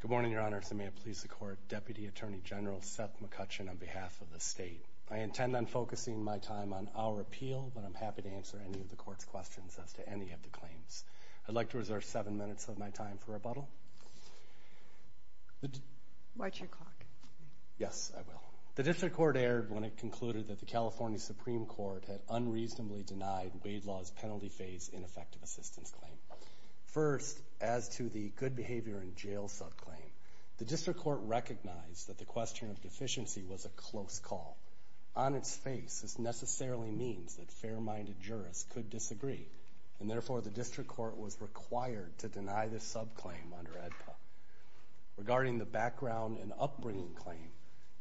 Good morning, Your Honors, and may it please the Court, Deputy Attorney General Seth McCutcheon on behalf of the state. I intend on focusing my time on our appeal, but I'm happy to answer any of the Court's questions as to any of the claims. I'd like to reserve seven minutes of my time for rebuttal. The District Court erred when it concluded that the California Supreme Court had unreasonably denied Waidla's penalty-phase ineffective assistance claim. First, as to the good behavior in jail subclaim, the District Court recognized that the question of deficiency was a close call. On its face, this necessarily means that fair-minded jurists could disagree, and therefore the District Court was required to deny this subclaim under AEDPA. Regarding the background and upbringing claim,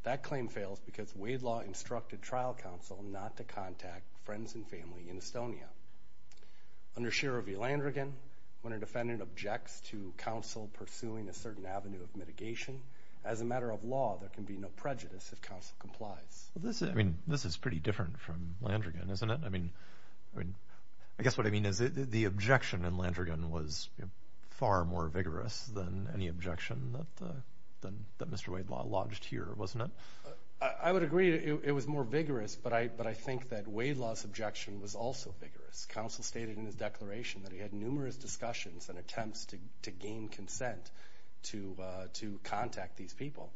that claim fails because Waidla instructed trial counsel not to contact friends and family in Estonia. Under Shiro v. Landrigan, when a defendant objects to counsel pursuing a certain avenue of mitigation, as a matter of law, there can be no prejudice if counsel complies. This is pretty different from Landrigan, isn't it? I guess what I mean is the objection in Landrigan was far more vigorous than any objection that Mr. Waidla lodged here, wasn't it? I would agree it was more vigorous, but I think that Waidla's objection was also vigorous. Counsel stated in his declaration that he had numerous discussions and attempts to gain consent to contact these people,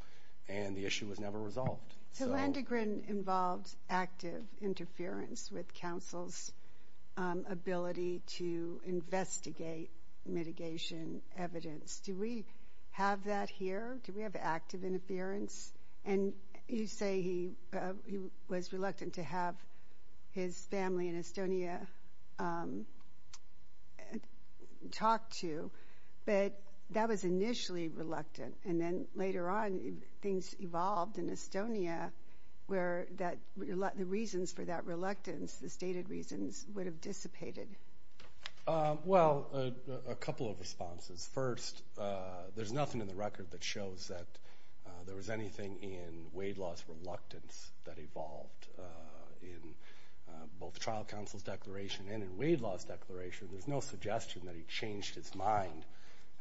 and the issue was never resolved. So Landrigan involved active interference with counsel's ability to investigate mitigation evidence. Do we have that here? Do we have active interference? And you say he was reluctant to have his family in Estonia talk to, but that was initially reluctant, and then later on things evolved in Estonia where the reasons for that reluctance, the stated reasons, would have dissipated. Well, a couple of responses. First, there's nothing in the record that shows that there was anything in Waidla's reluctance that evolved in both the trial counsel's declaration and in Waidla's declaration. There's no suggestion that he changed his mind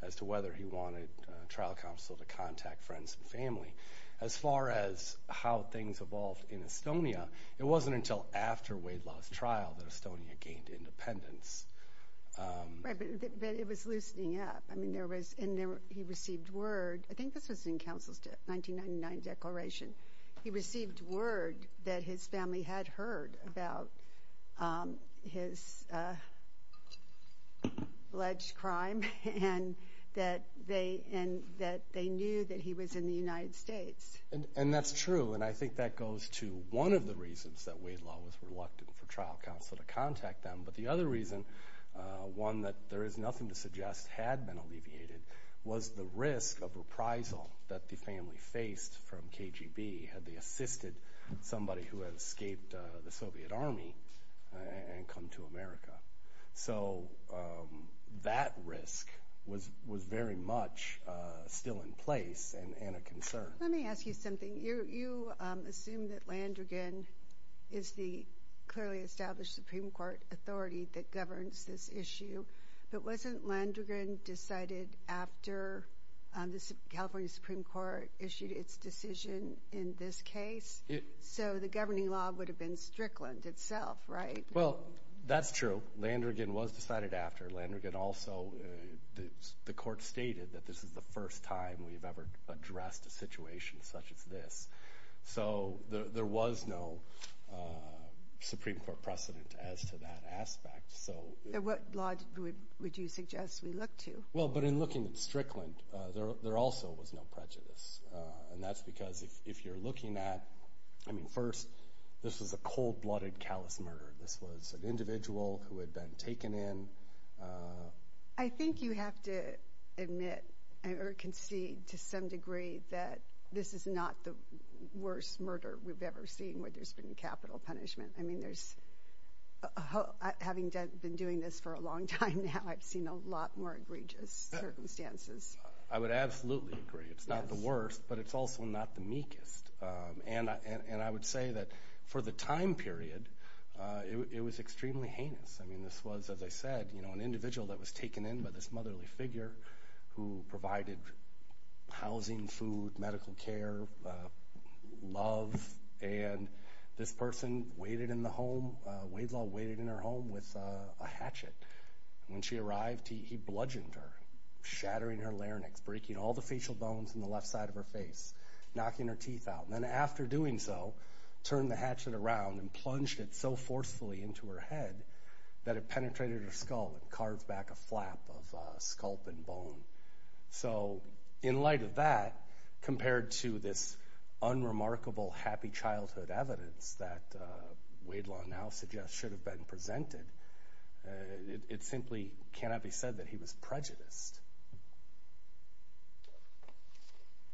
as to whether he wanted trial counsel to contact friends and family. As far as how things evolved in Estonia, it wasn't until after Waidla's trial that Estonia gained independence. Right, but it was loosening up. I mean, there was, and he received word, I think this was in counsel's 1999 declaration, he received word that his family had heard about his alleged crime and that they knew that he was in the United States. And that's true, and I think that goes to one of the reasons that Waidla was reluctant for trial counsel to contact them, but the other reason, one that there is nothing to suggest had been alleviated, was the risk of reprisal that the family faced from KGB had they assisted somebody who had served in the Soviet Army and come to America. So that risk was very much still in place and a concern. Let me ask you something. You assume that Landrigan is the clearly established Supreme Court authority that governs this issue, but wasn't Landrigan decided after the California Supreme Court issued its decision in this case? So the governing law would have been Strickland itself, right? Well, that's true. Landrigan was decided after. Landrigan also, the court stated that this is the first time we've ever addressed a situation such as this. So there was no Supreme Court precedent as to that aspect. So what law would you suggest we look to? Well, but in looking at Strickland, there also was no prejudice. And that's because if you're looking at, I mean first, this was a cold-blooded callous murder. This was an individual who had been taken in. I think you have to admit, or concede to some degree, that this is not the worst murder we've ever seen where there's been capital punishment. I mean there's, having been doing this for a long time now, I've seen a lot more egregious circumstances. I would absolutely agree. It's not the worst, but it's also not the meekest. And I would say that for the time period, it was extremely heinous. I mean this was, as I said, you know, an individual that was taken in by this motherly figure who provided housing, food, medical care, love. And this person waited in the home, Wade Law waited in her home with a hatchet. When she arrived, he bludgeoned her, shattering her larynx, breaking all the facial bones on the left side of her face, knocking her teeth out. And then after doing so, turned the hatchet around and plunged it so forcefully into her head that it penetrated her skull and carved back a flap of sculp and bone. So in light of that, compared to this unremarkable happy childhood evidence that Wade Law now suggests should have been presented, it simply cannot be said that he was prejudiced.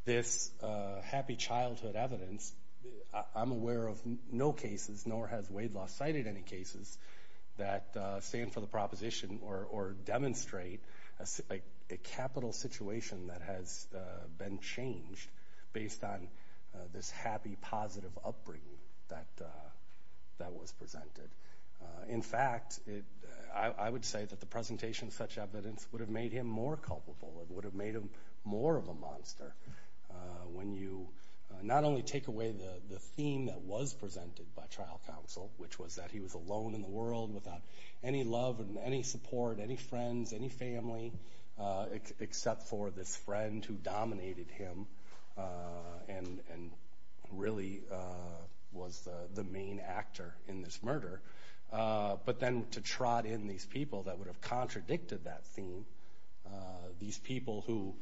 This happy childhood evidence, I'm aware of no cases, nor has Wade Law cited any cases, that stand for the proposition or demonstrate a capital situation that has been changed based on this happy, positive upbringing that was presented. In fact, I would say that the presentation of such evidence would have made him more culpable. It would have made him more of a monster. When you not only take away the theme that was presented by trial counsel, which was that he was alone in the world without any love and any support, any friends, any family, except for this friend who dominated him and really was the main actor in this murder, but then to trot in these people that would have contradicted that theme, these people who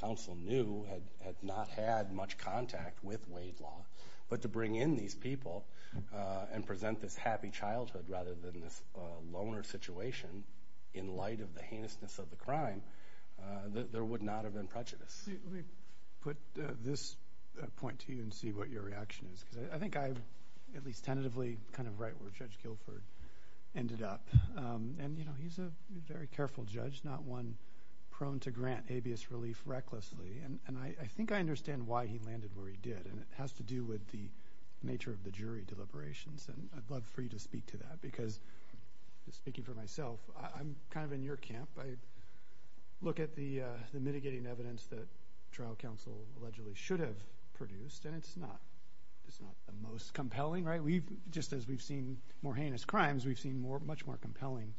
counsel knew had not had much contact with Wade Law, but to bring in these people and present this happy childhood rather than this loner situation in light of the heinousness of the crime, there would not have been prejudice. Let me put this point to you and see what your reaction is. I think I at least tentatively kind of write where Judge Guilford ended up. He's a very careful judge, not one prone to grant habeas relief recklessly, and I think I understand why he landed where he did, and it has to do with the nature of the jury deliberations, and I'd love for you to speak to that, because speaking for myself, I'm kind of in your camp. I look at the mitigating evidence that trial counsel allegedly should have produced, and it's not the most compelling. Just as we've seen more heinous crimes, we've seen much more compelling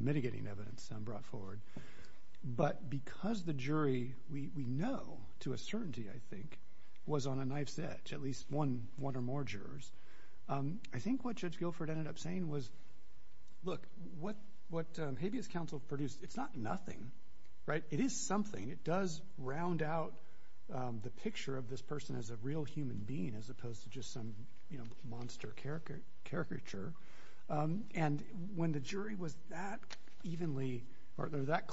mitigating evidence brought forward, but because the jury, we know to a certainty, I think, was on a knife's edge, at least one or more jurors, I think what Judge Guilford ended up saying was, look, what habeas counsel produced, it's not nothing, right? It is something. It does round out the picture of this person as a real human being as opposed to just some monster caricature, and when the jury was that evenly or that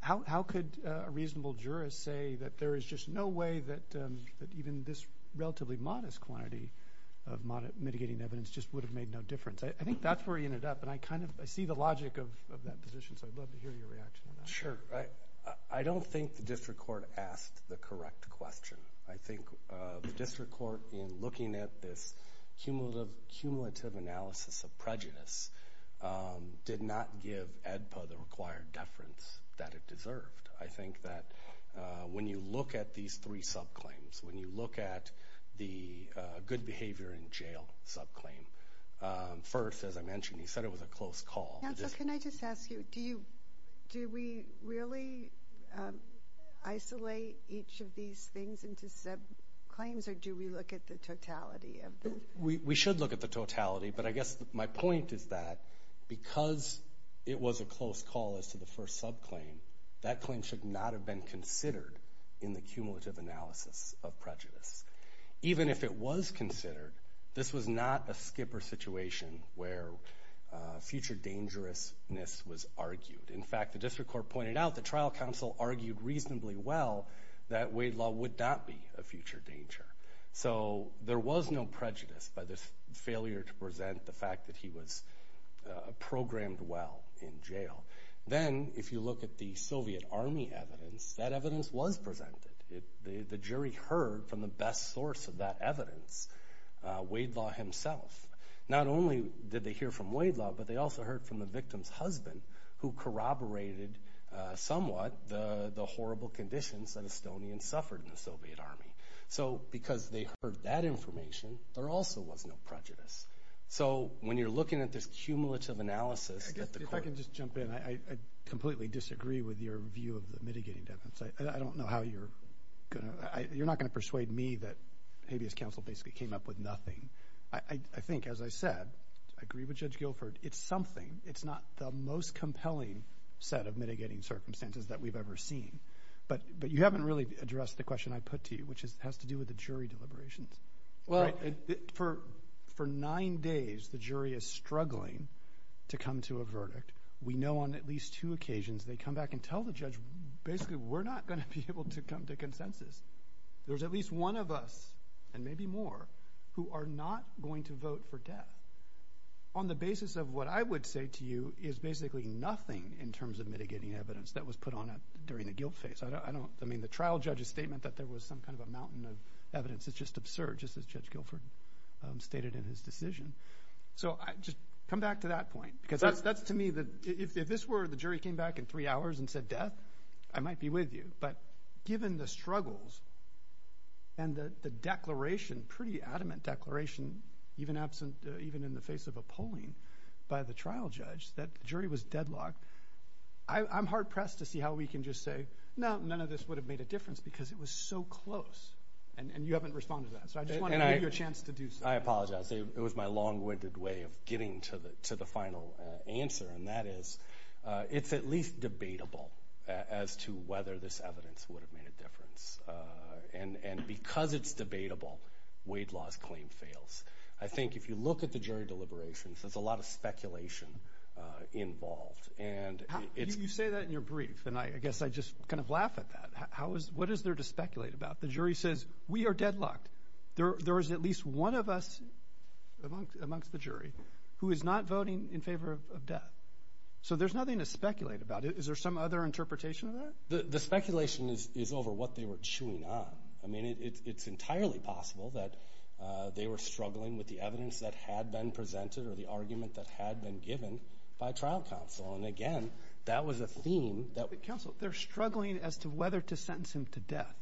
how could a reasonable jurist say that there is just no way that even this relatively modest quantity of mitigating evidence just would have made no difference? I think that's where he ended up, and I kind of see the logic of that position, so I'd love to hear your reaction to that. Sure. I don't think the district court asked the correct question. I think the district court, in looking at this cumulative analysis of prejudice, did not give ADPA the required deference that it deserved. I think that when you look at these three subclaims, when you look at the good behavior in jail subclaim, first, as I mentioned, he said it was a close call. Counsel, can I just ask you, do we really isolate each of these things into subclaims, or do we look at the totality of them? We should look at the totality, but I guess my point is that because it was a close call as to the first subclaim, that claim should not have been considered in the cumulative analysis of prejudice. Even if it was considered, this was not a skipper situation where future dangerousness was argued. In fact, the district court pointed out, the trial counsel argued reasonably well that Wade Law would not be a future danger. There was no prejudice by the failure to present the fact that he was programmed well in jail. Then, if you look at the Soviet Army evidence, that evidence was presented. The jury heard from the best source of that evidence, Wade Law himself. Not only did they hear from Wade Law, but they also heard from the victim's husband, who corroborated somewhat the horrible conditions that Estonians suffered in the Soviet Army. Because they heard that information, there also was no prejudice. So, when you're looking at this cumulative analysis... If I can just jump in, I completely disagree with your view of the mitigating evidence. I don't know how you're going to... You're not going to persuade me that habeas counsel basically came up with nothing. I think, as I said, I agree with Judge Guilford, it's something. It's not the most compelling set of mitigating circumstances that we've ever seen. But you haven't really addressed the question I put to you, which has to do with the jury deliberations. For nine days, the jury is struggling to come to a verdict. We know on at least two occasions they come back and tell the judge, basically, we're not going to be able to come to consensus. There's at least one of us, and maybe more, who are not going to vote for death. On the basis of what I would say to you is basically nothing in terms of mitigating evidence that was put on during the guilt phase. I mean, the trial judge's statement that there was some kind of a mountain of evidence is just absurd, just as Judge Guilford stated in his decision. So, just come back to that point. Because that's, to me, if this were the jury came back in three hours and said death, I might be with you. But given the struggles and the declaration, pretty adamant declaration, even in the face of a polling by the trial judge, that jury was deadlocked, I'm hard-pressed to see how we can just say, no, none of this would have made a difference because it was so close. And you haven't responded to that. So I just want to give you a chance to do so. I apologize. It was my long-winded way of getting to the final answer. And that is, it's at least debatable as to whether this evidence would have made a difference. And because it's debatable, Wade Law's claim fails. I think if you look at the jury deliberations, there's a lot of speculation involved. You say that in your brief, and I guess I just kind of laugh at that. What is there to speculate about? The jury says, we are deadlocked. There is at least one of us amongst the jury who is not voting in favor of death. So there's nothing to speculate about. Is there some other interpretation of that? The speculation is over what they were chewing on. I mean, it's entirely possible that they were struggling with the evidence that was given by trial counsel. And again, that was a theme that... Counsel, they're struggling as to whether to sentence him to death.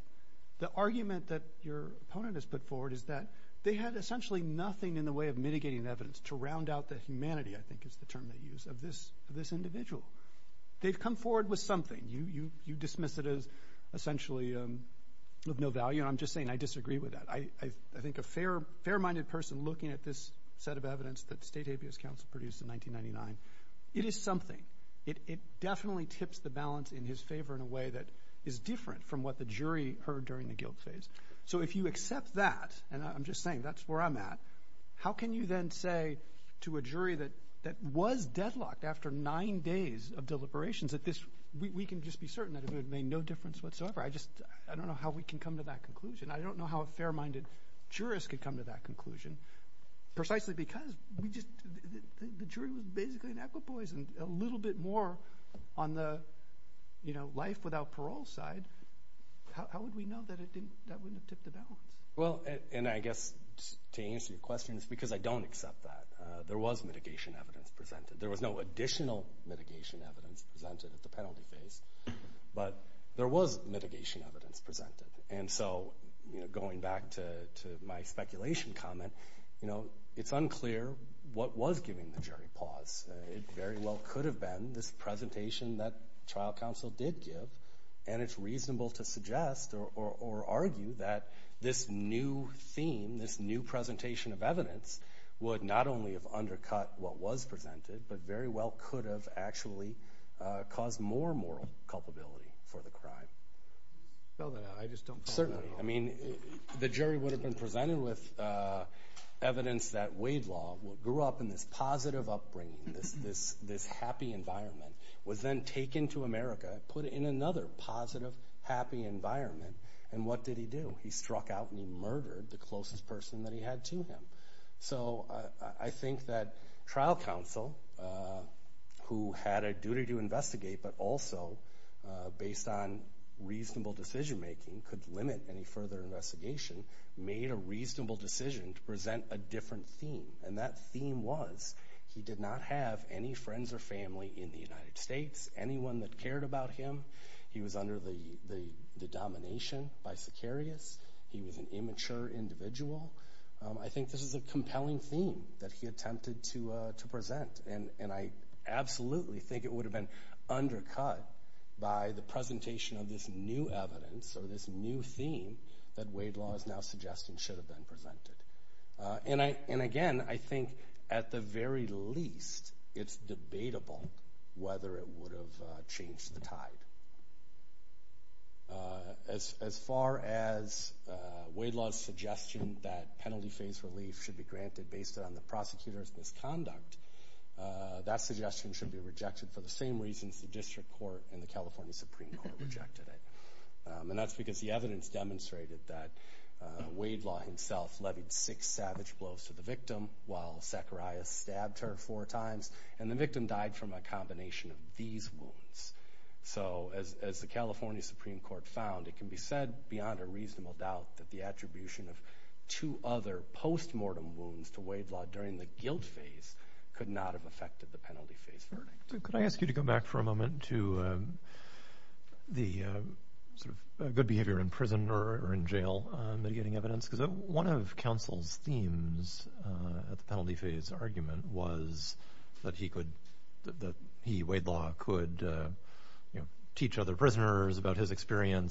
The argument that your opponent has put forward is that they had essentially nothing in the way of mitigating evidence to round out the humanity, I think is the term they use, of this individual. They've come forward with something. You dismiss it as essentially of no value. And I'm just saying, I disagree with that. I think a fair-minded person looking at this set of evidence that State Habeas Council produced in 1999, it is something. It definitely tips the balance in his favor in a way that is different from what the jury heard during the guilt phase. So if you accept that, and I'm just saying that's where I'm at, how can you then say to a jury that was deadlocked after nine days of deliberations that this, we can just be fair-minded, jurists could come to that conclusion, precisely because the jury was basically an equipoise and a little bit more on the life-without-parole side, how would we know that that wouldn't have tipped the balance? Well, and I guess to answer your question, it's because I don't accept that. There was mitigation evidence presented. There was no additional mitigation evidence presented at the penalty phase, but there was mitigation evidence presented. And so, going back to my speculation comment, you know, it's unclear what was giving the jury pause. It very well could have been this presentation that trial counsel did give, and it's reasonable to suggest or argue that this new theme, this new presentation of evidence would not only have undercut what was presented, but very well could have actually caused more moral culpability for the crime. No, I just don't think that at all. Certainly. I mean, the jury would have been presented with evidence that Wade Law, who grew up in this positive upbringing, this happy environment, was then taken to America, put in another positive, happy environment, and what did he do? He struck out and he murdered the closest person that he had to him. So, I think that trial counsel, who had a duty to investigate, but also based on reasonable decision-making, could limit any further investigation, made a reasonable decision to present a different theme. And that theme was he did not have any friends or family in the United States, anyone that cared about him. He was under the domination by Sicarius. He was an immature individual. I think this is a compelling theme that he attempted to present, and I absolutely think it would have been undercut by the presentation of this new evidence, or this new theme, that Wade Law is now suggesting should have been presented. And again, I think at the very least, it's debatable whether it would have changed the tide. As far as Wade Law's suggestion that penalty-phase relief should be granted based on the prosecutor's misconduct, that suggestion should be rejected for the same reasons the District Court and the California Supreme Court rejected it. And that's because the evidence demonstrated that Wade Law himself levied six savage blows to the victim while Sicarius stabbed her four times, and the victim died from a combination of these wounds. So, as the California Supreme Court found, it can be said, beyond a could not have affected the penalty-phase verdict. Could I ask you to go back for a moment to the sort of good behavior in prison or in jail mitigating evidence? Because one of counsel's themes at the penalty-phase argument was that he, Wade Law, could teach other prisoners about his in jail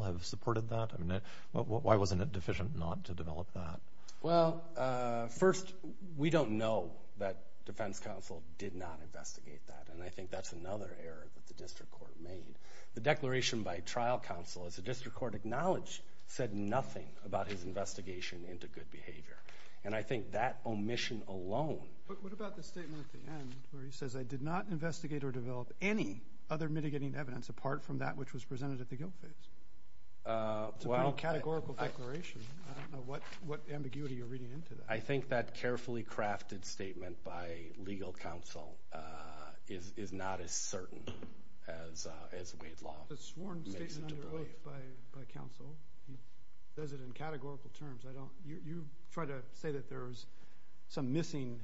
have supported that? I mean, why wasn't it deficient not to develop that? Well, first, we don't know that defense counsel did not investigate that, and I think that's another error that the District Court made. The declaration by trial counsel, as the District Court acknowledged, said nothing about his investigation into good behavior. And I think that omission alone... But what about the statement at the end where he says, I did not investigate or develop any other mitigating evidence, apart from that which was presented at the guilt phase? It's a pretty categorical declaration. I don't know what ambiguity you're reading into that. I think that carefully crafted statement by legal counsel is not as certain as Wade Law makes it to believe. That's a sworn statement under oath by counsel. He does it in categorical terms. You try to say that there was some missing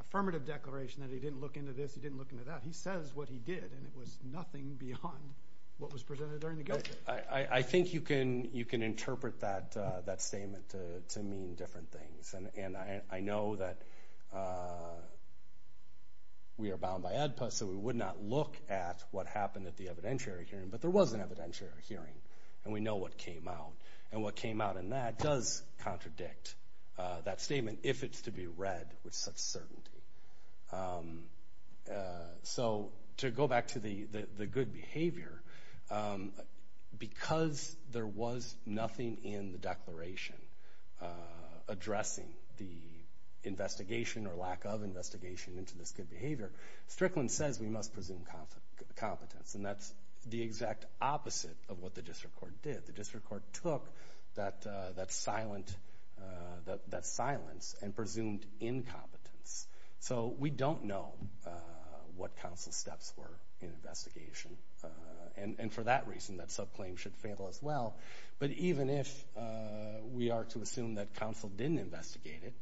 affirmative declaration, that he didn't look into this, he didn't look into that. He says what he did, and it was nothing beyond what was presented during the guilt phase. I think you can interpret that statement to mean different things, and I know that we are bound by ADPA, so we would not look at what happened at the evidentiary hearing. But there was an evidentiary hearing, and we know what came out. And what came out in that does contradict that statement, if it's to be read with such certainty. So to go back to the good behavior, because there was nothing in the declaration addressing the investigation or lack of investigation into this good behavior, Strickland says we must presume competence, and that's the exact opposite of what the district court did. The district court took that silence and presumed incompetence. So we don't know what counsel's steps were in investigation, and for that reason, that subclaim should fail as well. But even if we are to assume that counsel didn't investigate it,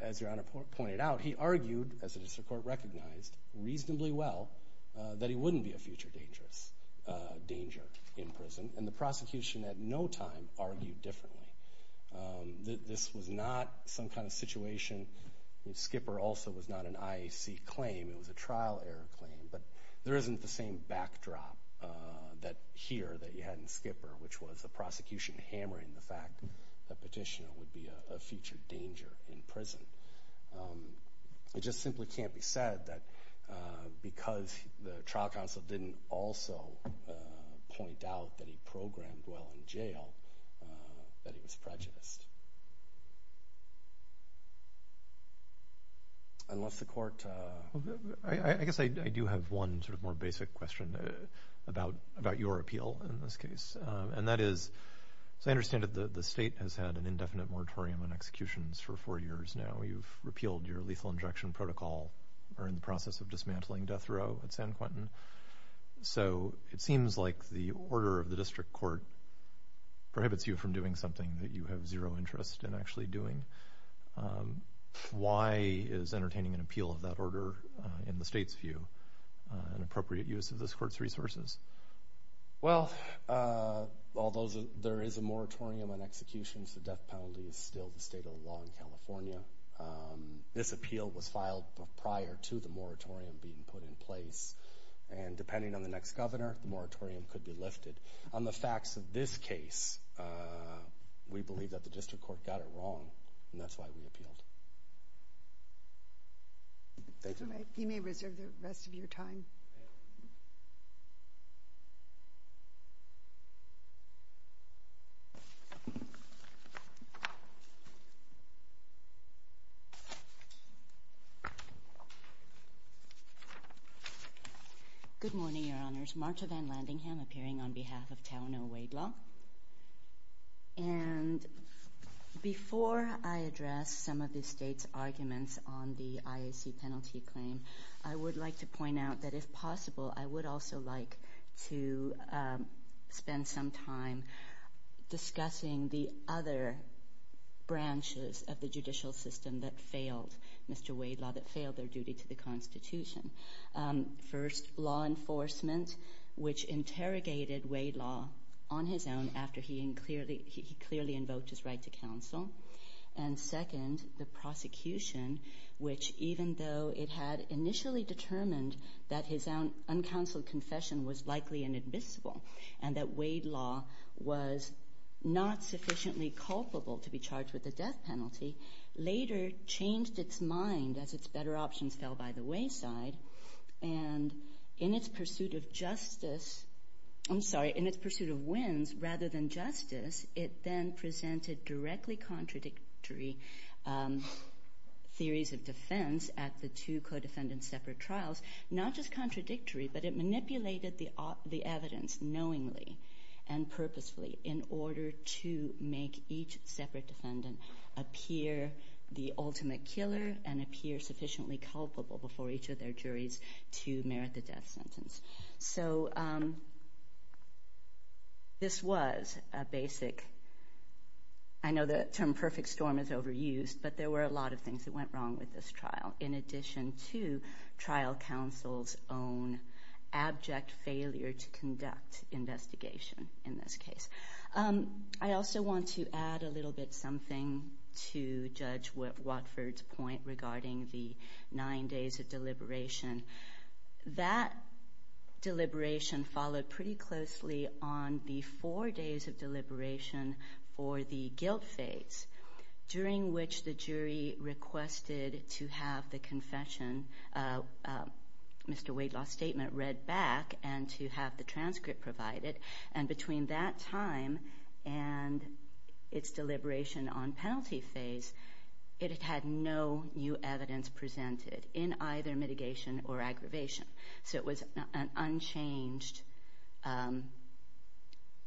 as Your Honor pointed out, he argued, as the district court recognized reasonably well, that he wouldn't be a future danger in prison, and the prosecution at no time argued differently. This was not some kind of situation, Skipper also was not an IAC claim, it was a trial error claim, but there isn't the same backdrop here that you had in Skipper, which was the prosecution hammering the fact that Petitioner would be a future danger in prison. It just simply can't be said that because the trial counsel didn't also point out that he programmed well in jail, that he was prejudiced. I guess I do have one sort of more basic question about your appeal in this case. And that is, as I understand it, the state has had an indefinite moratorium on executions for four years now. You've repealed your lethal injection protocol, are in the process of dismantling death row at San Quentin. So it seems like the order of the district court prohibits you from doing something that you have zero interest in actually doing. Why is entertaining an appeal of that order, in the state's view, an appropriate use of this court's resources? Well, although there is a moratorium on executions, the death penalty is still the state of the law in California. This appeal was filed prior to the moratorium being put in place. And depending on the next governor, the moratorium could be lifted. On the facts of this case, we believe that the district court got it wrong, and that's why we appealed. Thank you. You may reserve the rest of your time. Good morning, Your Honors. Marta Van Landingham, appearing on behalf of Taunoo Wade Law. And before I address some of the state's arguments on the IAC penalty claim, I would like to point out that, if possible, I would also like to spend some time discussing the other branches of the judicial system that failed Mr. Wade Law, that failed their duty to the Constitution. First, law enforcement, which interrogated Wade Law on his own after he clearly invoked his right to counsel. And second, the prosecution, which, even though it had initially determined that his uncounseled confession was likely inadmissible, and that Wade Law was not sufficiently culpable to be charged with the death penalty, later changed its mind as its better options fell by the wayside. And in its pursuit of justice, I'm sorry, in its pursuit of wins rather than justice, it then presented directly contradictory theories of defense at the two co-defendant separate trials, not just contradictory, but it manipulated the evidence knowingly and purposefully in order to make each separate defendant appear the ultimate killer and appear sufficiently culpable before each of their juries to merit the death sentence. So this was a basic, I know the term perfect storm is overused, but there were a lot of things that went wrong with this trial, in addition to trial counsel's own abject failure to conduct investigation in this case. I also want to add a little bit something to Judge Watford's point regarding the nine days of deliberation. That deliberation followed pretty closely on the four days of deliberation for the guilt phase, during which the jury requested to have the confession of Mr. Wade Law's statement read back and to have the transcript provided. And between that time and its deliberation on penalty phase, it had no new evidence presented in either mitigation or aggravation. So it was an unchanged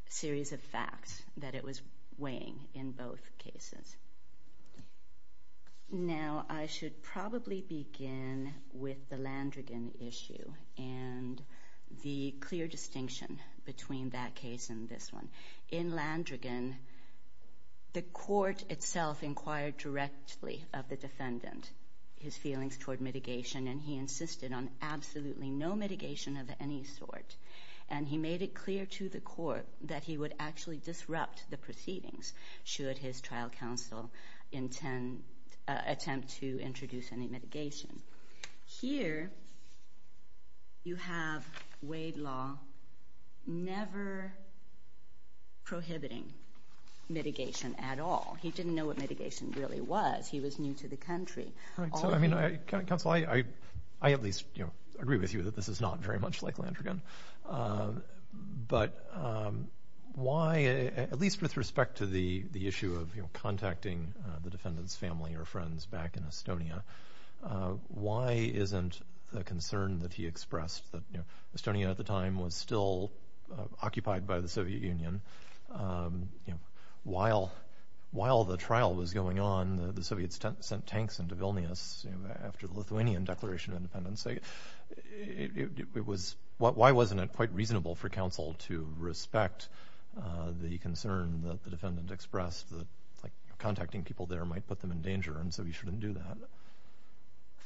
series of facts that it was weighing in both cases. Now I should probably begin with the Landrigan issue and the clear distinction between that case and this one. In Landrigan, the court itself inquired directly of the defendant, his feelings toward mitigation, and he insisted on absolutely no mitigation of any sort. And he made it clear to the court that he would actually disrupt the proceedings should his trial counsel attempt to introduce any mitigation. Here you have Wade Law never prohibiting mitigation at all. He didn't know what mitigation really was. He was new to the country. Counsel, I at least agree with you that this is not very much like Landrigan. But why, at least with respect to the issue of contacting the defendant's family or friends back in Estonia, why isn't the concern that he expressed that Estonia at the time was still occupied by the Soviet Union, while the trial was going on, the Soviets sent tanks into Vilnius after the Lithuanian Declaration of Independence. Why wasn't it quite reasonable for counsel to respect the concern that the defendant expressed that contacting people there might put them in danger and so he shouldn't do that?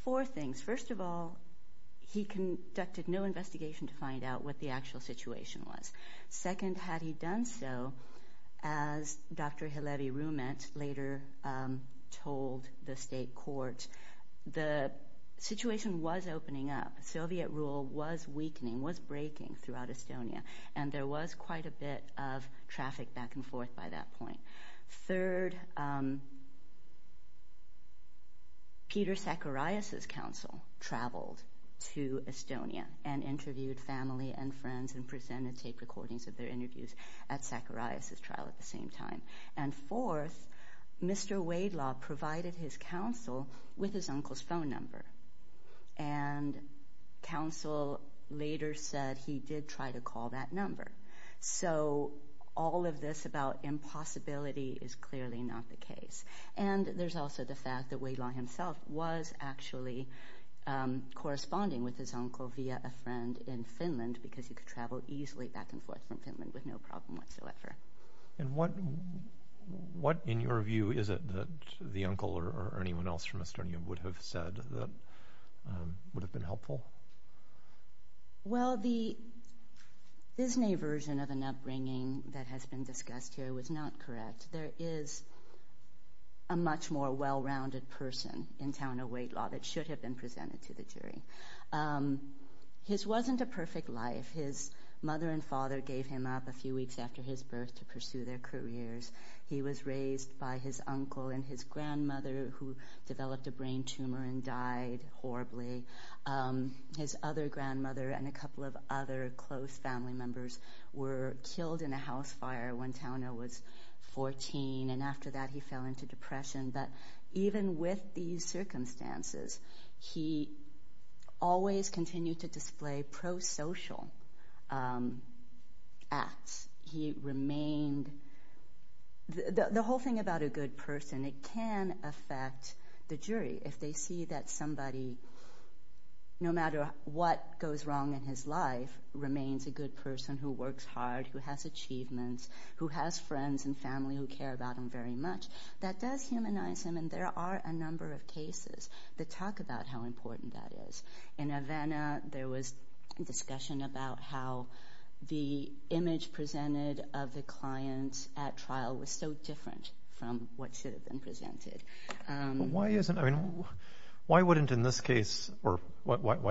Four things. First of all, he conducted no investigation to find out what the actual situation was. Second, had he done so, as Dr. Halevi-Rumet later told the state court, the situation was opening up. Soviet rule was weakening, was breaking throughout Estonia, and there was quite a bit of traffic back and forth by that point. Third, Peter Zacharias's counsel traveled to Estonia and interviewed family and friends and presented tape recordings of their interviews at Zacharias's trial at the same time. And fourth, Mr. Wadelaw provided his counsel with his uncle's phone number, and counsel later said he did try to call that number. So all of this about impossibility is clearly not the case. And there's also the fact that Wadelaw himself was actually corresponding with his uncle via a friend in Finland because he could travel easily back and forth from Finland with no problem whatsoever. And what, in your view, is it that the uncle or anyone else from Estonia would have said that would have been helpful? Well, the Disney version of an upbringing that has been discussed here was not correct. There is a much more well-rounded person in Tauno Wadelaw that should have been presented to the jury. His wasn't a perfect life. His mother and father gave him up a few weeks after his birth to pursue their careers. He was raised by his uncle and his grandmother, who developed a brain tumor and died horribly. His other grandmother and a couple of other close family members were killed in a house fire when Tauno was 14, and after that he fell into depression. But even with these circumstances, he always continued to display pro-social acts. He remained the whole thing about a good person. And it can affect the jury if they see that somebody, no matter what goes wrong in his life, remains a good person who works hard, who has achievements, who has friends and family who care about him very much. That does humanize him, and there are a number of cases that talk about how important that is. In Havana, there was a discussion about how the image presented of the client at trial was so different from what should have been presented. Why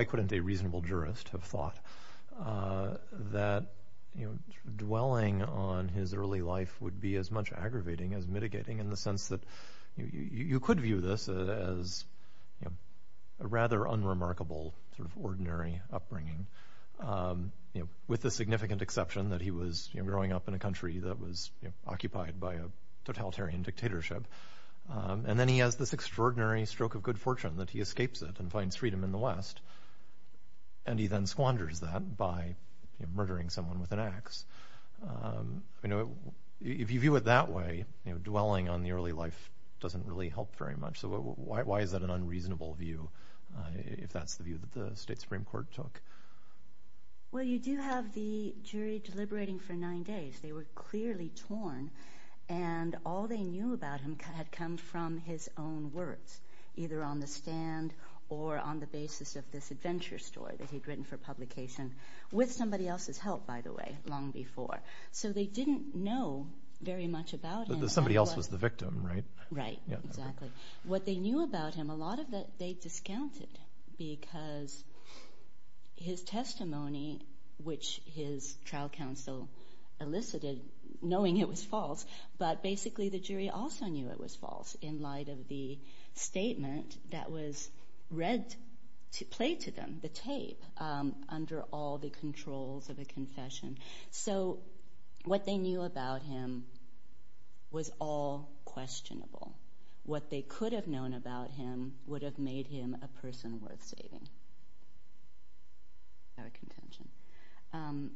couldn't a reasonable jurist have thought that dwelling on his early life would be as much aggravating as mitigating, in the sense that you could view this as a rather unremarkable ordinary upbringing, with the significant exception that he was growing up in a country that was occupied by a totalitarian dictatorship. And then he has this extraordinary stroke of good fortune that he escapes it and finds freedom in the West, and he then squanders that by murdering someone with an ax. If you view it that way, dwelling on the early life doesn't really help very much. So why is that an unreasonable view, if that's the view that the State Supreme Court took? Well, you do have the jury deliberating for nine days. They were clearly torn, and all they knew about him had come from his own words, either on the stand or on the basis of this adventure story that he'd written for publication, with somebody else's help, by the way, long before. So they didn't know very much about him. Somebody else was the victim, right? Right, exactly. What they knew about him, a lot of that they discounted, because his testimony, which his trial counsel elicited knowing it was false, but basically the jury also knew it was false, in light of the statement that was played to them, the tape, under all the controls of a confession. So what they knew about him was all questionable. What they could have known about him would have made him a person worth saving. Without a contention.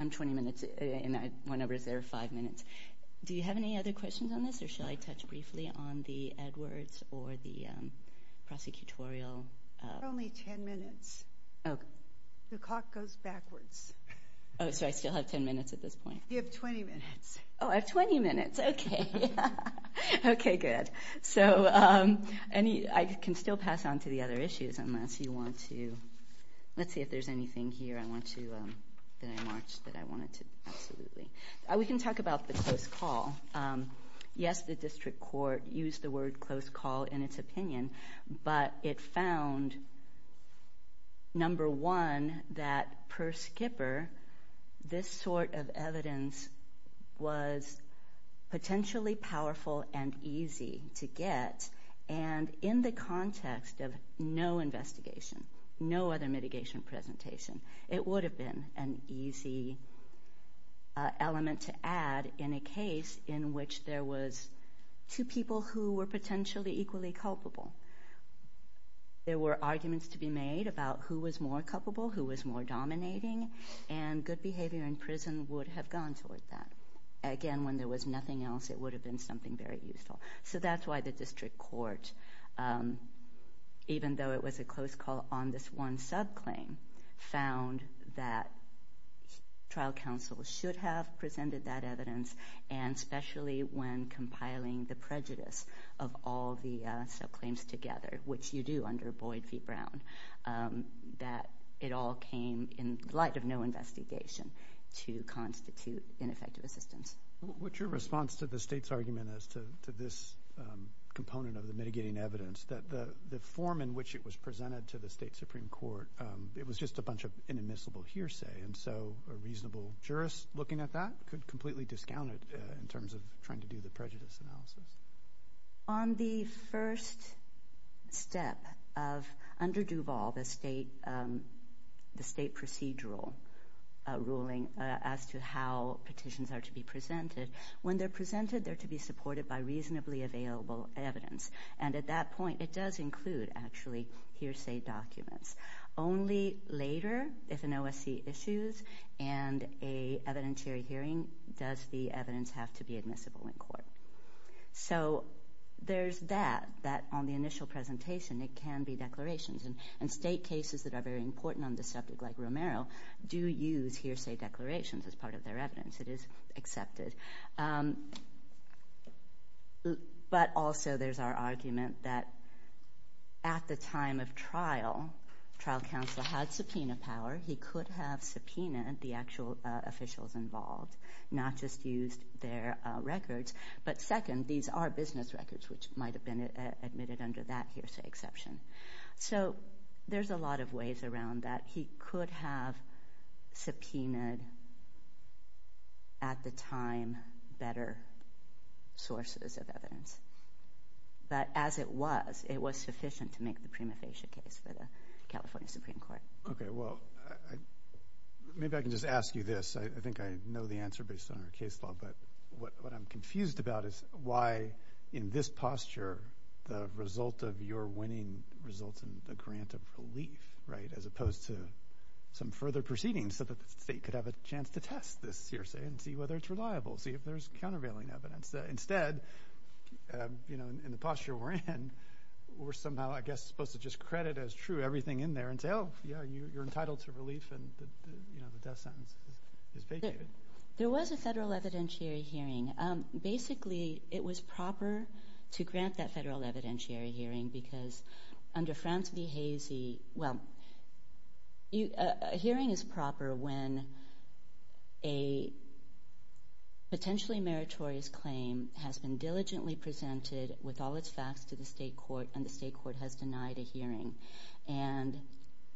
I'm 20 minutes in, and my number is there five minutes. Do you have any other questions on this, or shall I touch briefly on the Edwards or the prosecutorial? You're only 10 minutes. Oh. The clock goes backwards. Oh, so I still have 10 minutes at this point. You have 20 minutes. Oh, I have 20 minutes. Okay. Okay, good. So I can still pass on to the other issues, unless you want to. Let's see if there's anything here I want to, that I want to, absolutely. We can talk about the close call. Yes, the district court used the word close call in its opinion, but it found, number one, that, per Skipper, this sort of evidence was potentially powerful and easy to get, and in the context of no investigation, no other mitigation presentation, it would have been an easy element to add in a case in which there was two people who were potentially equally culpable. There were arguments to be made about who was more culpable, who was more dominating, and good behavior in prison would have gone toward that. Again, when there was nothing else, it would have been something very useful. So that's why the district court, even though it was a close call on this one subclaim, found that trial counsel should have presented that evidence, and especially when compiling the prejudice of all the subclaims together, which you do under Boyd v. Brown, that it all came in light of no investigation to constitute ineffective assistance. What's your response to the State's argument as to this component of the mitigating evidence, that the form in which it was presented to the State Supreme Court, it was just a bunch of inadmissible hearsay, and so a reasonable jurist looking at that could completely discount it in terms of trying to do the prejudice analysis? On the first step, under Duval, the State procedural ruling as to how petitions are to be presented, when they're presented they're to be supported by reasonably available evidence, and at that point it does include, actually, hearsay documents. Only later, if an OSC issues and a evidentiary hearing, does the evidence have to be admissible in court. So there's that, that on the initial presentation it can be declarations, and State cases that are very important on the subject, like Romero, do use hearsay declarations as part of their evidence. It is accepted. But also there's our argument that at the time of trial, trial counsel had subpoena power. He could have subpoenaed the actual officials involved, not just used their records. But second, these are business records, which might have been admitted under that hearsay exception. So there's a lot of ways around that. He could have subpoenaed, at the time, better sources of evidence. But as it was, it was sufficient to make the prima facie case for the California Supreme Court. Okay, well, maybe I can just ask you this. I think I know the answer based on our case law, but what I'm confused about is why, in this posture, the result of your winning results in a grant of relief, right, as opposed to some further proceedings so that the State could have a chance to test this hearsay and see whether it's reliable, see if there's countervailing evidence. Instead, in the posture we're in, we're somehow, I guess, supposed to just credit as true everything in there and say, oh, yeah, you're entitled to relief and the death sentence is vacated. There was a federal evidentiary hearing. Basically, it was proper to grant that federal evidentiary hearing because under Frans V. Hazy, well, a hearing is proper when a potentially meritorious claim has been diligently presented with all its facts to the State court, and the State court has denied a hearing, and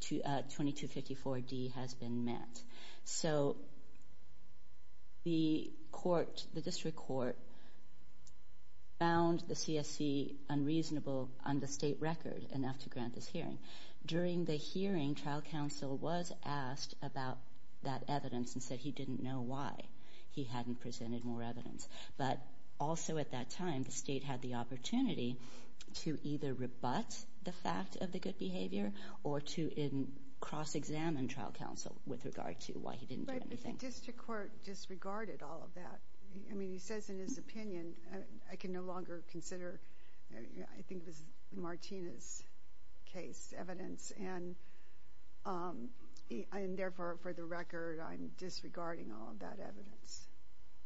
2254D has been met. So the court, the district court, found the CSC unreasonable on the State record enough to grant this hearing. During the hearing, trial counsel was asked about that evidence and said he didn't know why he hadn't presented more evidence. But also at that time, the State had the opportunity to either rebut the fact of the good behavior or to cross-examine trial counsel with regard to why he didn't do anything. But the district court disregarded all of that. I mean, he says in his opinion, I can no longer consider, I think it was Martina's case, evidence, and therefore, for the record, I'm disregarding all of that evidence.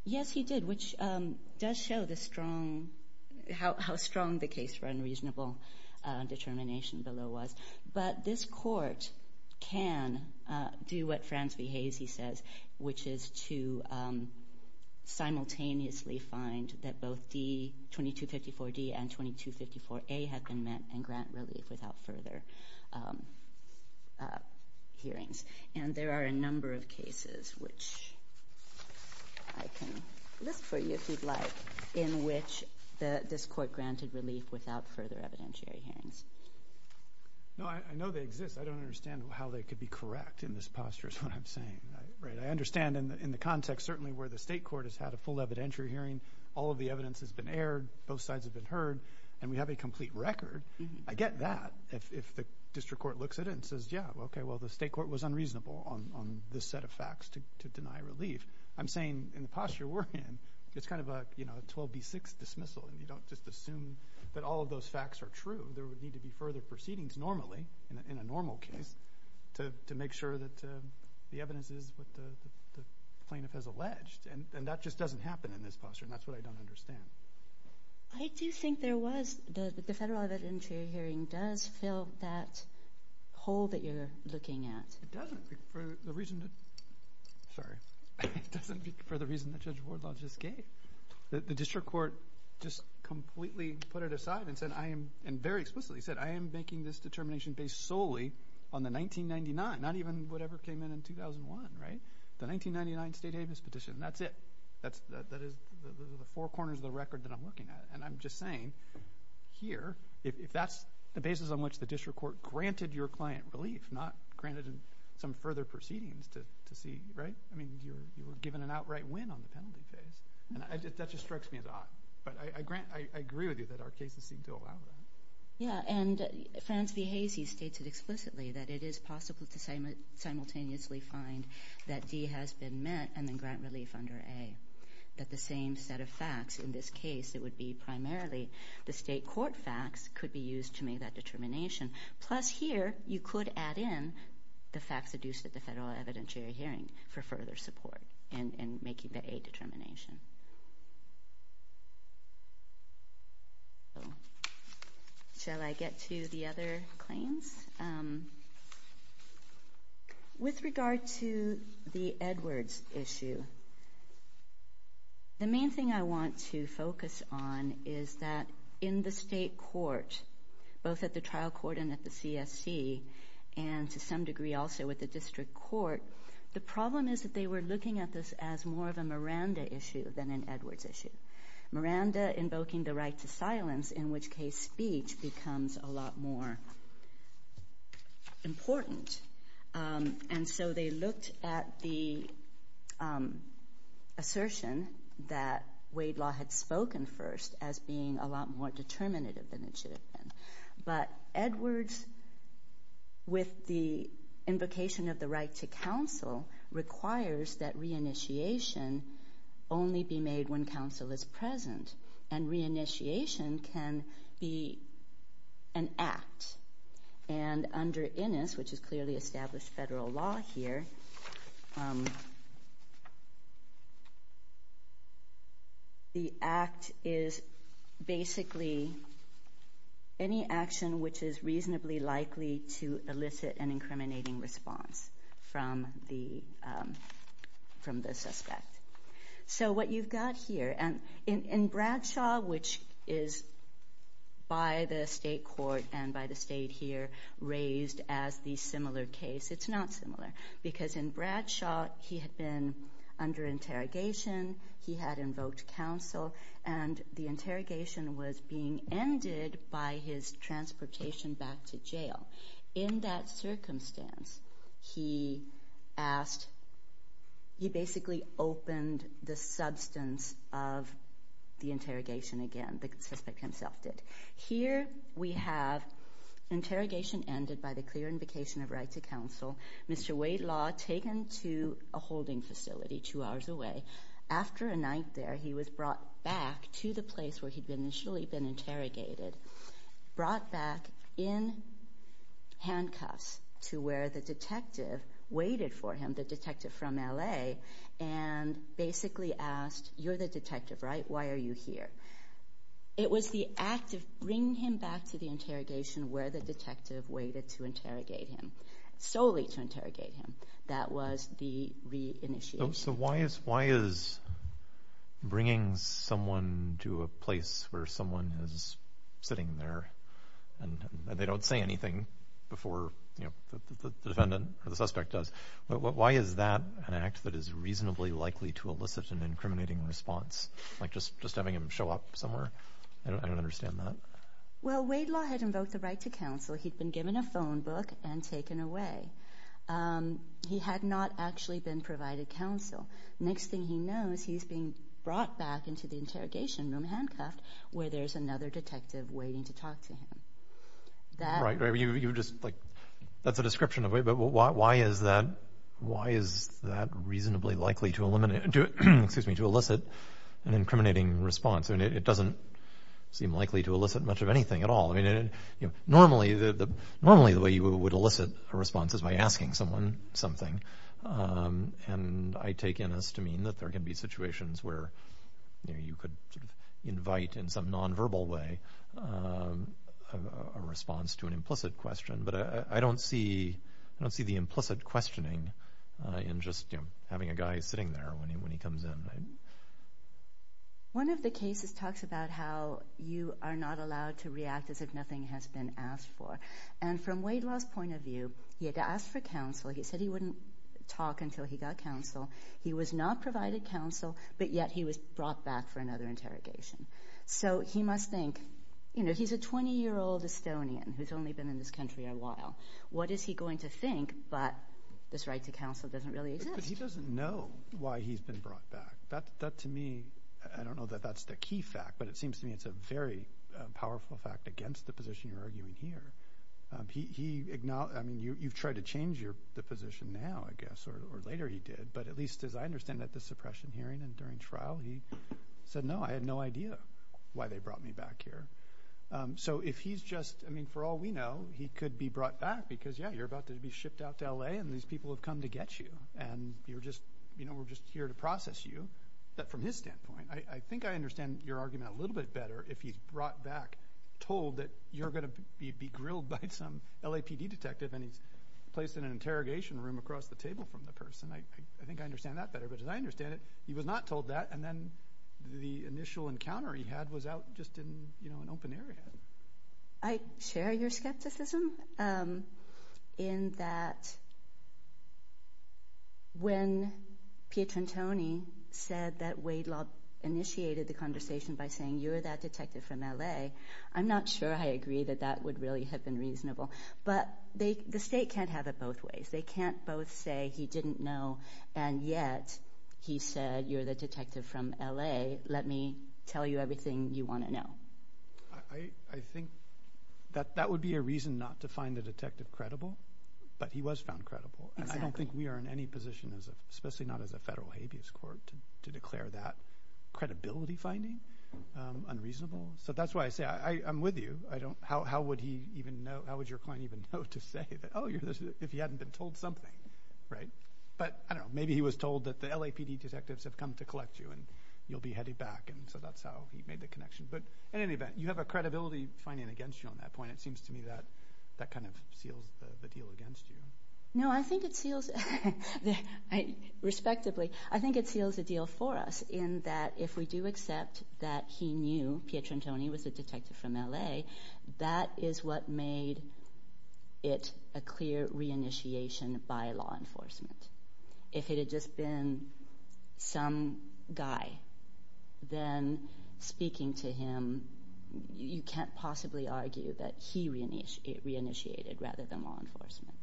Yes, he did, which does show how strong the case for unreasonable determination below was. But this court can do what Frans V. Hayes says, which is to simultaneously find that both 2254D and 2254A have been met and grant relief without further hearings. And there are a number of cases, which I can list for you if you'd like, in which this court granted relief without further evidentiary hearings. No, I know they exist. I don't understand how they could be correct in this posture is what I'm saying. I understand in the context certainly where the State court has had a full evidentiary hearing, all of the evidence has been aired, both sides have been heard, and we have a complete record. I get that if the district court looks at it and says, yeah, okay, well, the State court was unreasonable on this set of facts to deny relief. I'm saying in the posture we're in, it's kind of a 12B6 dismissal, and you don't just assume that all of those facts are true. There would need to be further proceedings normally, in a normal case, to make sure that the evidence is what the plaintiff has alleged. And that just doesn't happen in this posture, and that's what I don't understand. I do think there was. The federal evidentiary hearing does fill that hole that you're looking at. It doesn't for the reason that Judge Wardlaw just gave. The district court just completely put it aside and said I am, and very explicitly said I am making this determination based solely on the 1999, not even whatever came in in 2001, right? The 1999 State Havens petition. That's it. That is the four corners of the record that I'm looking at, and I'm just saying here if that's the basis on which the district court granted your client relief, not granted some further proceedings to see, right? I mean, you were given an outright win on the penalty phase. That just strikes me as odd. But I agree with you that our cases seem to allow that. Yeah, and Frans V. Hazey states it explicitly that it is possible to simultaneously find that D has been met and then grant relief under A, that the same set of facts in this case, it would be primarily the state court facts could be used to make that determination. Plus here you could add in the facts deduced at the federal evidentiary hearing for further support in making the A determination. Shall I get to the other claims? With regard to the Edwards issue, the main thing I want to focus on is that in the state court, both at the trial court and at the CSC, and to some degree also with the district court, the problem is that they were looking at this as more of a Miranda issue than an Edwards issue. Miranda invoking the right to silence, in which case speech, becomes a lot more important. And so they looked at the assertion that Wade Law had spoken first as being a lot more determinative than it should have been. But Edwards, with the invocation of the right to counsel, requires that reinitiation only be made when counsel is present. And reinitiation can be an act. And under Innis, which is clearly established federal law here, the act is basically any action which is reasonably likely to elicit an incriminating response from the suspect. So what you've got here, and in Bradshaw, which is by the state court and by the state here raised as the similar case, it's not similar. Because in Bradshaw, he had been under interrogation, he had invoked counsel, and the interrogation was being ended by his transportation back to jail. In that circumstance, he basically opened the substance of the interrogation again, the suspect himself did. Here we have interrogation ended by the clear invocation of right to counsel. Mr. Wade Law taken to a holding facility two hours away. After a night there, he was brought back to the place where he'd initially been interrogated, brought back in handcuffs to where the detective waited for him, the detective from L.A., and basically asked, you're the detective, right? Why are you here? It was the act of bringing him back to the interrogation where the detective waited to interrogate him. Solely to interrogate him. That was the re-initiation. So why is bringing someone to a place where someone is sitting there and they don't say anything before the defendant or the suspect does? Why is that an act that is reasonably likely to elicit an incriminating response? Like just having him show up somewhere? I don't understand that. Well, Wade Law had invoked the right to counsel. He'd been given a phone book and taken away. He had not actually been provided counsel. Next thing he knows, he's being brought back into the interrogation room, handcuffed, where there's another detective waiting to talk to him. That's a description of it, but why is that reasonably likely to elicit an incriminating response? It doesn't seem likely to elicit much of anything at all. Normally the way you would elicit a response is by asking someone something, and I take in as to mean that there can be situations where you could invite in some nonverbal way a response to an implicit question, but I don't see the implicit questioning in just having a guy sitting there when he comes in. One of the cases talks about how you are not allowed to react as if nothing has been asked for, and from Wade Law's point of view, he had to ask for counsel. He said he wouldn't talk until he got counsel. He was not provided counsel, but yet he was brought back for another interrogation. So he must think, you know, he's a 20-year-old Estonian who's only been in this country a while. What is he going to think, but this right to counsel doesn't really exist. He doesn't know why he's been brought back. That to me, I don't know that that's the key fact, but it seems to me it's a very powerful fact against the position you're arguing here. You've tried to change the position now, I guess, or later he did, but at least as I understand it at the suppression hearing and during trial, he said, no, I had no idea why they brought me back here. So if he's just, I mean, for all we know, he could be brought back because, yeah, you're about to be shipped out to L.A. and these people have come to get you, and you're just, you know, we're just here to process you. But from his standpoint, I think I understand your argument a little bit better if he's brought back, told that you're going to be grilled by some LAPD detective and he's placed in an interrogation room across the table from the person. I think I understand that better, but as I understand it, he was not told that, and then the initial encounter he had was out just in, you know, an open area. I share your skepticism in that when Pietrantoni said that Wade Laub initiated the conversation by saying, you're that detective from L.A., I'm not sure I agree that that would really have been reasonable. But the state can't have it both ways. They can't both say he didn't know and yet he said, you're the detective from L.A., let me tell you everything you want to know. I think that that would be a reason not to find the detective credible, but he was found credible. And I don't think we are in any position, especially not as a federal habeas court, to declare that credibility finding unreasonable. So that's why I say I'm with you. How would your client even know to say, oh, if he hadn't been told something, right? But, I don't know, maybe he was told that the LAPD detectives have come to collect you and you'll be headed back, and so that's how he made the connection. But in any event, you have a credibility finding against you on that point. It seems to me that that kind of seals the deal against you. No, I think it seals, respectively, I think it seals the deal for us in that if we do accept that he knew Pietrantoni was a detective from L.A., that is what made it a clear reinitiation by law enforcement. If it had just been some guy, then speaking to him, you can't possibly argue that he reinitiated rather than law enforcement.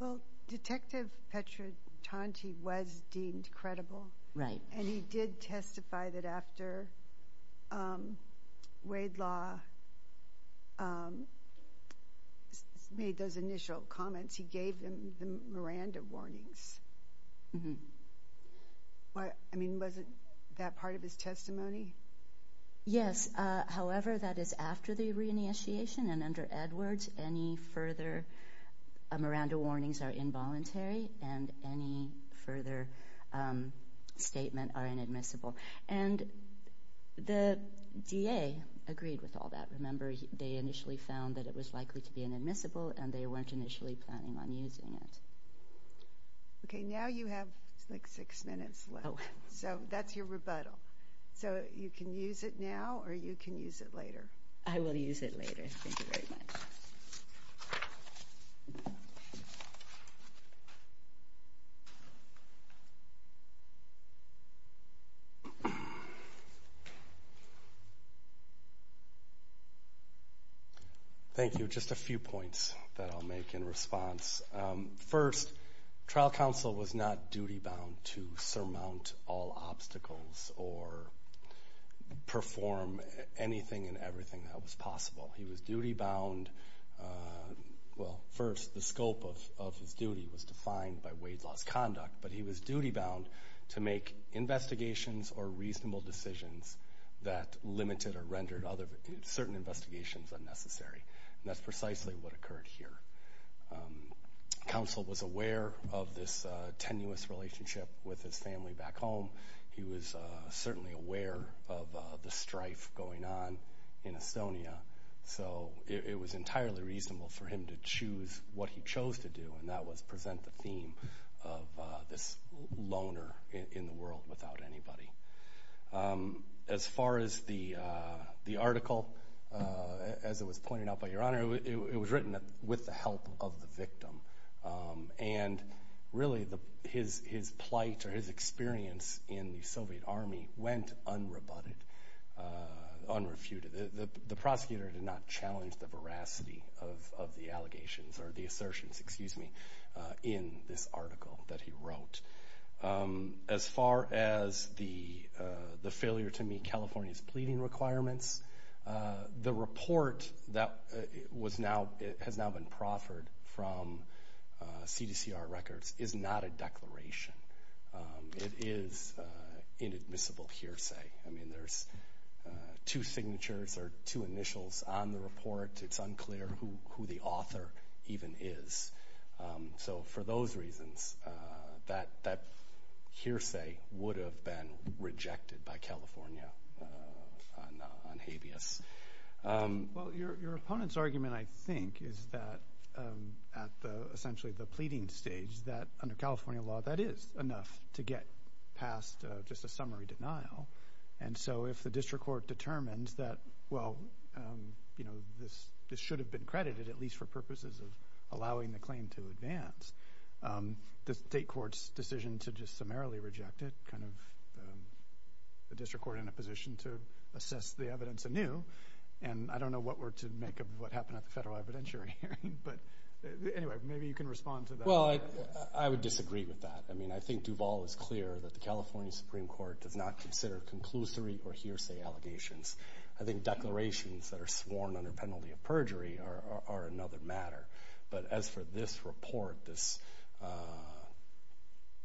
Well, Detective Pietrantoni was deemed credible. Right. And he did testify that after Wade Law made those initial comments, he gave them the Miranda warnings. I mean, wasn't that part of his testimony? Yes. However, that is after the reinitiation, and under Edwards, any further Miranda warnings are involuntary, and any further statement are inadmissible. And the DA agreed with all that. Remember, they initially found that it was likely to be inadmissible, and they weren't initially planning on using it. Okay, now you have, like, six minutes left. So that's your rebuttal. So you can use it now or you can use it later. I will use it later. Thank you very much. Thank you. Just a few points that I'll make in response. First, trial counsel was not duty-bound to surmount all obstacles or perform anything and everything that was possible. He was duty-bound. Well, first, the scope of his duty was defined by Wade Law's conduct, but he was duty-bound to make investigations or reasonable decisions that limited or rendered certain investigations unnecessary. And that's precisely what occurred here. Counsel was aware of this tenuous relationship with his family back home. He was certainly aware of the strife going on in Estonia. So it was entirely reasonable for him to choose what he chose to do, and that was present the theme of this loner in the world without anybody. As far as the article, as it was pointed out by Your Honor, it was written with the help of the victim. And, really, his plight or his experience in the Soviet Army went unrebutted, unrefuted. The prosecutor did not challenge the veracity of the allegations or the assertions in this article that he wrote. As far as the failure to meet California's pleading requirements, the report that has now been proffered from CDCR records is not a declaration. It is inadmissible hearsay. I mean, there's two signatures or two initials on the report. It's unclear who the author even is. So for those reasons, that hearsay would have been rejected by California on habeas. Well, your opponent's argument, I think, is that at essentially the pleading stage, that under California law, that is enough to get past just a summary denial. And so if the district court determines that, well, this should have been credited, at least for purposes of allowing the claim to advance, the state court's decision to just summarily reject it, kind of the district court in a position to assess the evidence anew. And I don't know what we're to make of what happened at the federal evidentiary hearing. But anyway, maybe you can respond to that. Well, I would disagree with that. I mean, I think Duval is clear that the California Supreme Court does not consider conclusory or hearsay allegations. I think declarations that are sworn under penalty of perjury are another matter. But as for this report, this,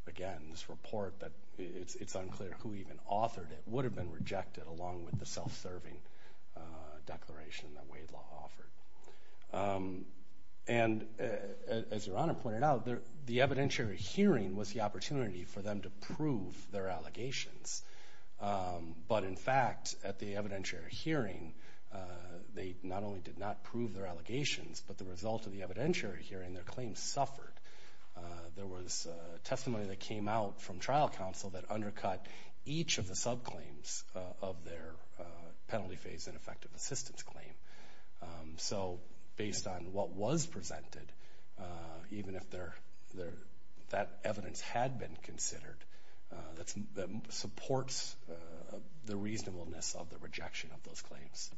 again, this report, it's unclear who even authored it, but it would have been rejected along with the self-serving declaration that Wade law offered. And as Your Honor pointed out, the evidentiary hearing was the opportunity for them to prove their allegations. But in fact, at the evidentiary hearing, they not only did not prove their allegations, but the result of the evidentiary hearing, their claims suffered. In fact, there was testimony that came out from trial counsel that undercut each of the subclaims of their penalty phase and effective assistance claim. So based on what was presented, even if that evidence had been considered, that supports the reasonableness of the rejection of those claims.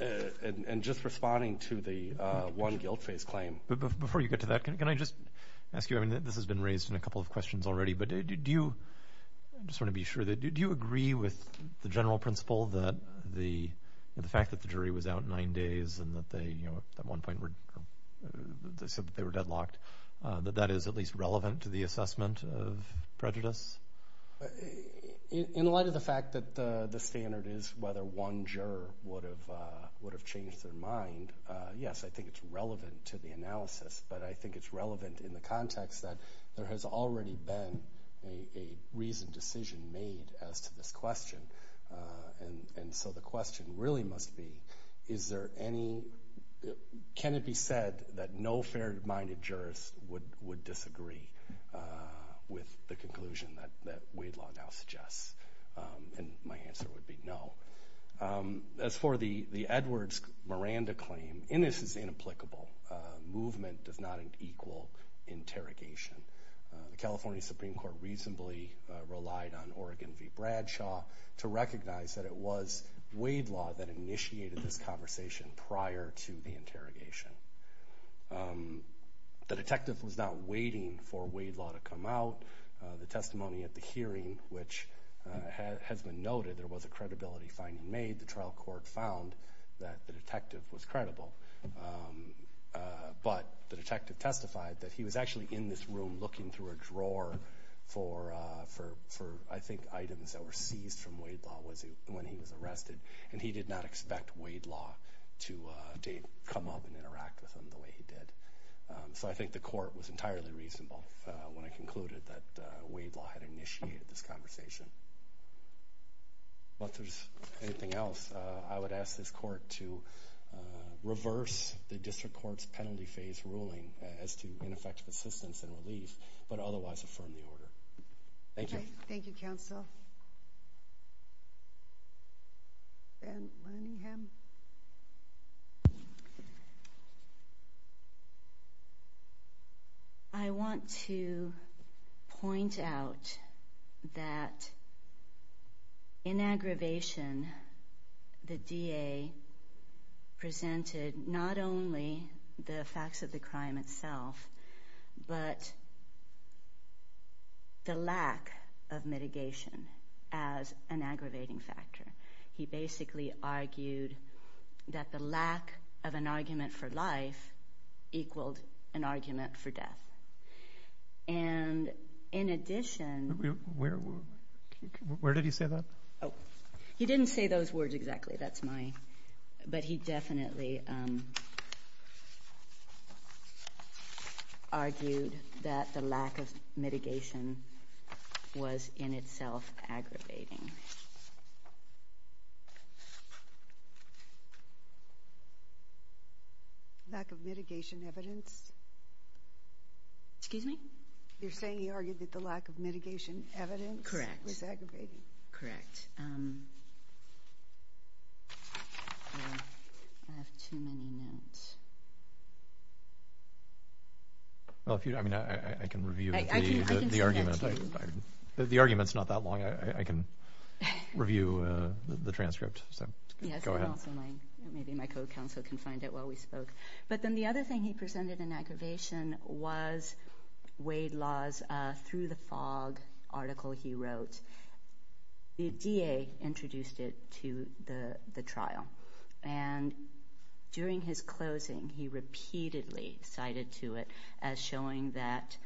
And just responding to the one guilt phase claim. Before you get to that, can I just ask you, I mean, this has been raised in a couple of questions already, but do you, I just want to be sure, do you agree with the general principle that the fact that the jury was out nine days and that they, you know, at one point they said that they were deadlocked, that that is at least relevant to the assessment of prejudice? In light of the fact that the standard is whether one juror would have changed their mind, yes, I think it's relevant to the analysis. But I think it's relevant in the context that there has already been a reasoned decision made as to this question. And so the question really must be, is there any, can it be said that no fair-minded jurist would disagree with the conclusion that Wade Law now suggests? And my answer would be no. As for the Edwards-Miranda claim, in this it's inapplicable. Movement does not equal interrogation. The California Supreme Court reasonably relied on Oregon v. Bradshaw to recognize that it was Wade Law that initiated this conversation prior to the interrogation. The detective was not waiting for Wade Law to come out. The testimony at the hearing, which has been noted, there was a credibility finding made. The trial court found that the detective was credible. But the detective testified that he was actually in this room looking through a drawer for, I think, items that were seized from Wade Law when he was arrested. And he did not expect Wade Law to come up and interact with him the way he did. So I think the court was entirely reasonable when it concluded that Wade Law had initiated this conversation. If there's anything else, I would ask this court to reverse the district court's penalty phase ruling as to ineffective assistance and relief, but otherwise affirm the order. Thank you. Okay. Thank you, counsel. Van Lunningham. I want to point out that in aggravation, the DA presented not only the facts of the crime itself, but the lack of mitigation as an aggravating factor. He basically argued that the lack of an argument for life equaled an argument for death. And in addition... Where did he say that? He didn't say those words exactly. That's my... But he definitely argued that the lack of mitigation was in itself aggravating. Lack of mitigation evidence? Excuse me? You're saying he argued that the lack of mitigation evidence was aggravating? Correct. I have too many notes. I can review the argument. I can send that to you. The argument's not that long. I can review the transcript. Go ahead. Maybe my co-counsel can find it while we spoke. But then the other thing he presented in aggravation was Wade Law's Through the Fog article he wrote. The DA introduced it to the trial. And during his closing, he repeatedly cited to it as showing that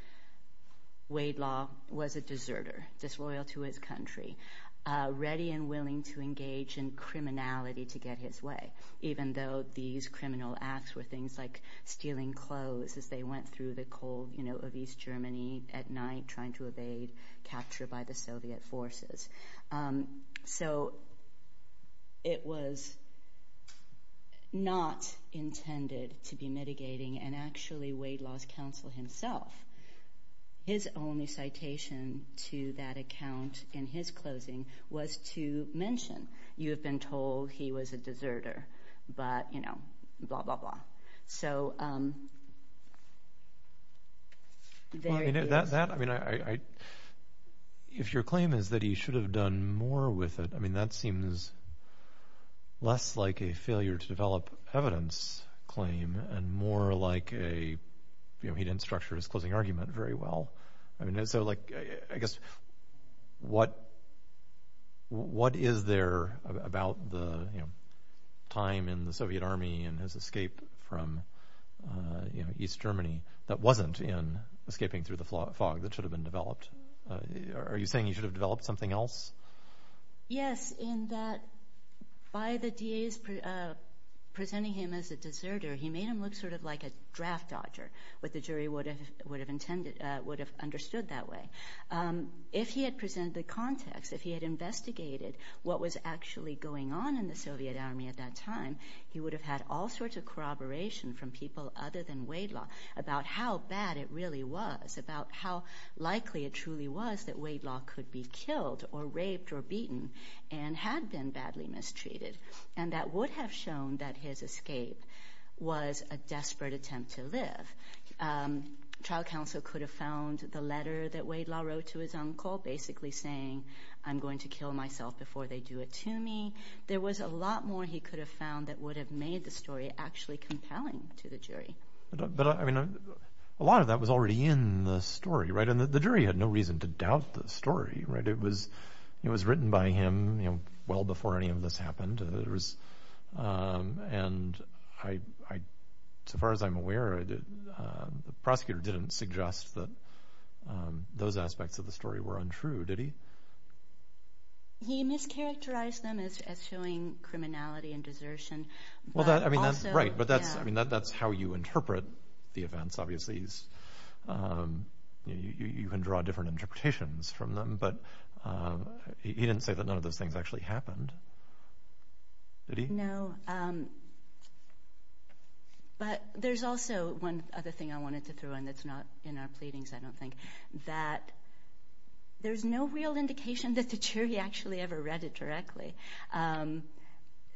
Wade Law was a deserter, disloyal to his country, ready and willing to engage in criminality to get his way, even though these criminal acts were things like stealing clothes as they went through the cold of East Germany at night, trying to evade capture by the Soviet forces. So it was not intended to be mitigating, and actually Wade Law's counsel himself, his only citation to that account in his closing was to mention, you have been told he was a deserter, but, you know, blah, blah, blah. So there it is. Well, I mean, if your claim is that he should have done more with it, I mean, that seems less like a failure to develop evidence claim and more like a, you know, he didn't structure his closing argument very well. I mean, so, like, I guess what is there about the time in the Soviet Army and his escape from East Germany that wasn't in Escaping Through the Fog that should have been developed? Are you saying he should have developed something else? Yes, in that by the DA's presenting him as a deserter, he made him look sort of like a draft dodger, what the jury would have understood that way. If he had presented the context, if he had investigated what was actually going on in the Soviet Army at that time, he would have had all sorts of corroboration from people other than Wade Law about how bad it really was, about how likely it truly was that Wade Law could be killed or raped or beaten and had been badly mistreated. And that would have shown that his escape was a desperate attempt to live. Trial counsel could have found the letter that Wade Law wrote to his uncle basically saying, I'm going to kill myself before they do it to me. There was a lot more he could have found that would have made the story actually compelling to the jury. But, I mean, a lot of that was already in the story, right? And the jury had no reason to doubt the story, right? It was written by him well before any of this happened. And so far as I'm aware, the prosecutor didn't suggest that those aspects of the story were untrue, did he? He mischaracterized them as showing criminality and desertion. Right, but that's how you interpret the events, obviously. You can draw different interpretations from them, but he didn't say that none of those things actually happened, did he? No. But there's also one other thing I wanted to throw in that's not in our pleadings, I don't think, that there's no real indication that the jury actually ever read it directly.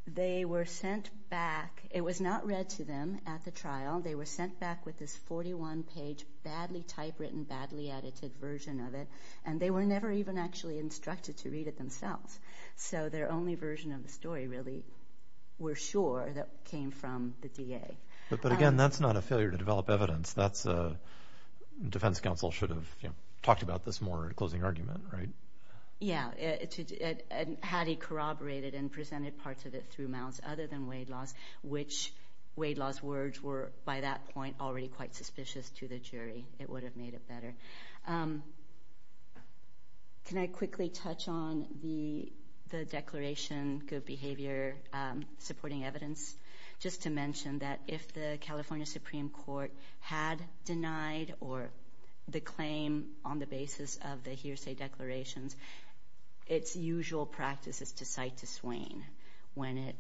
They were sent back. It was not read to them at the trial. They were sent back with this 41-page, badly typewritten, badly edited version of it, and they were never even actually instructed to read it themselves. So their only version of the story, really, we're sure, came from the DA. But, again, that's not a failure to develop evidence. Defense counsel should have talked about this more at a closing argument, right? Yeah. Had he corroborated and presented parts of it through mounts other than Wade Law's, which Wade Law's words were, by that point, already quite suspicious to the jury, it would have made it better. Can I quickly touch on the declaration, good behavior, supporting evidence, just to mention that if the California Supreme Court had denied the claim on the basis of the hearsay declarations, its usual practice is to cite to swain when it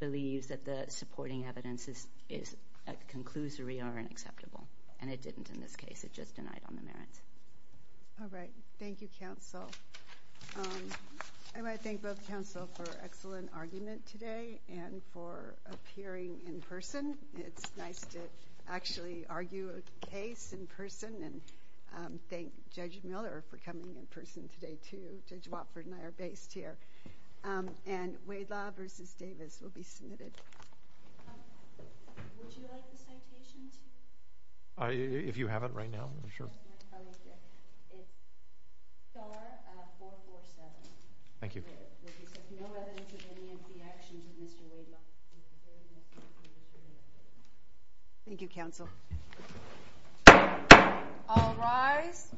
believes that the supporting evidence is a conclusory or unacceptable. And it didn't in this case. It just denied on the merits. All right. Thank you, counsel. I want to thank both counsel for an excellent argument today and for appearing in person. It's nice to actually argue a case in person and thank Judge Miller for coming in person today, too. Judge Watford and I are based here. And Wade Law v. Davis will be submitted. Would you like the citation, too? If you have it right now, sure. It's star 447. Thank you. No evidence of any of the actions of Mr. Wade Law. Thank you, counsel. All rise.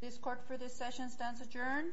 This court for this session stands adjourned.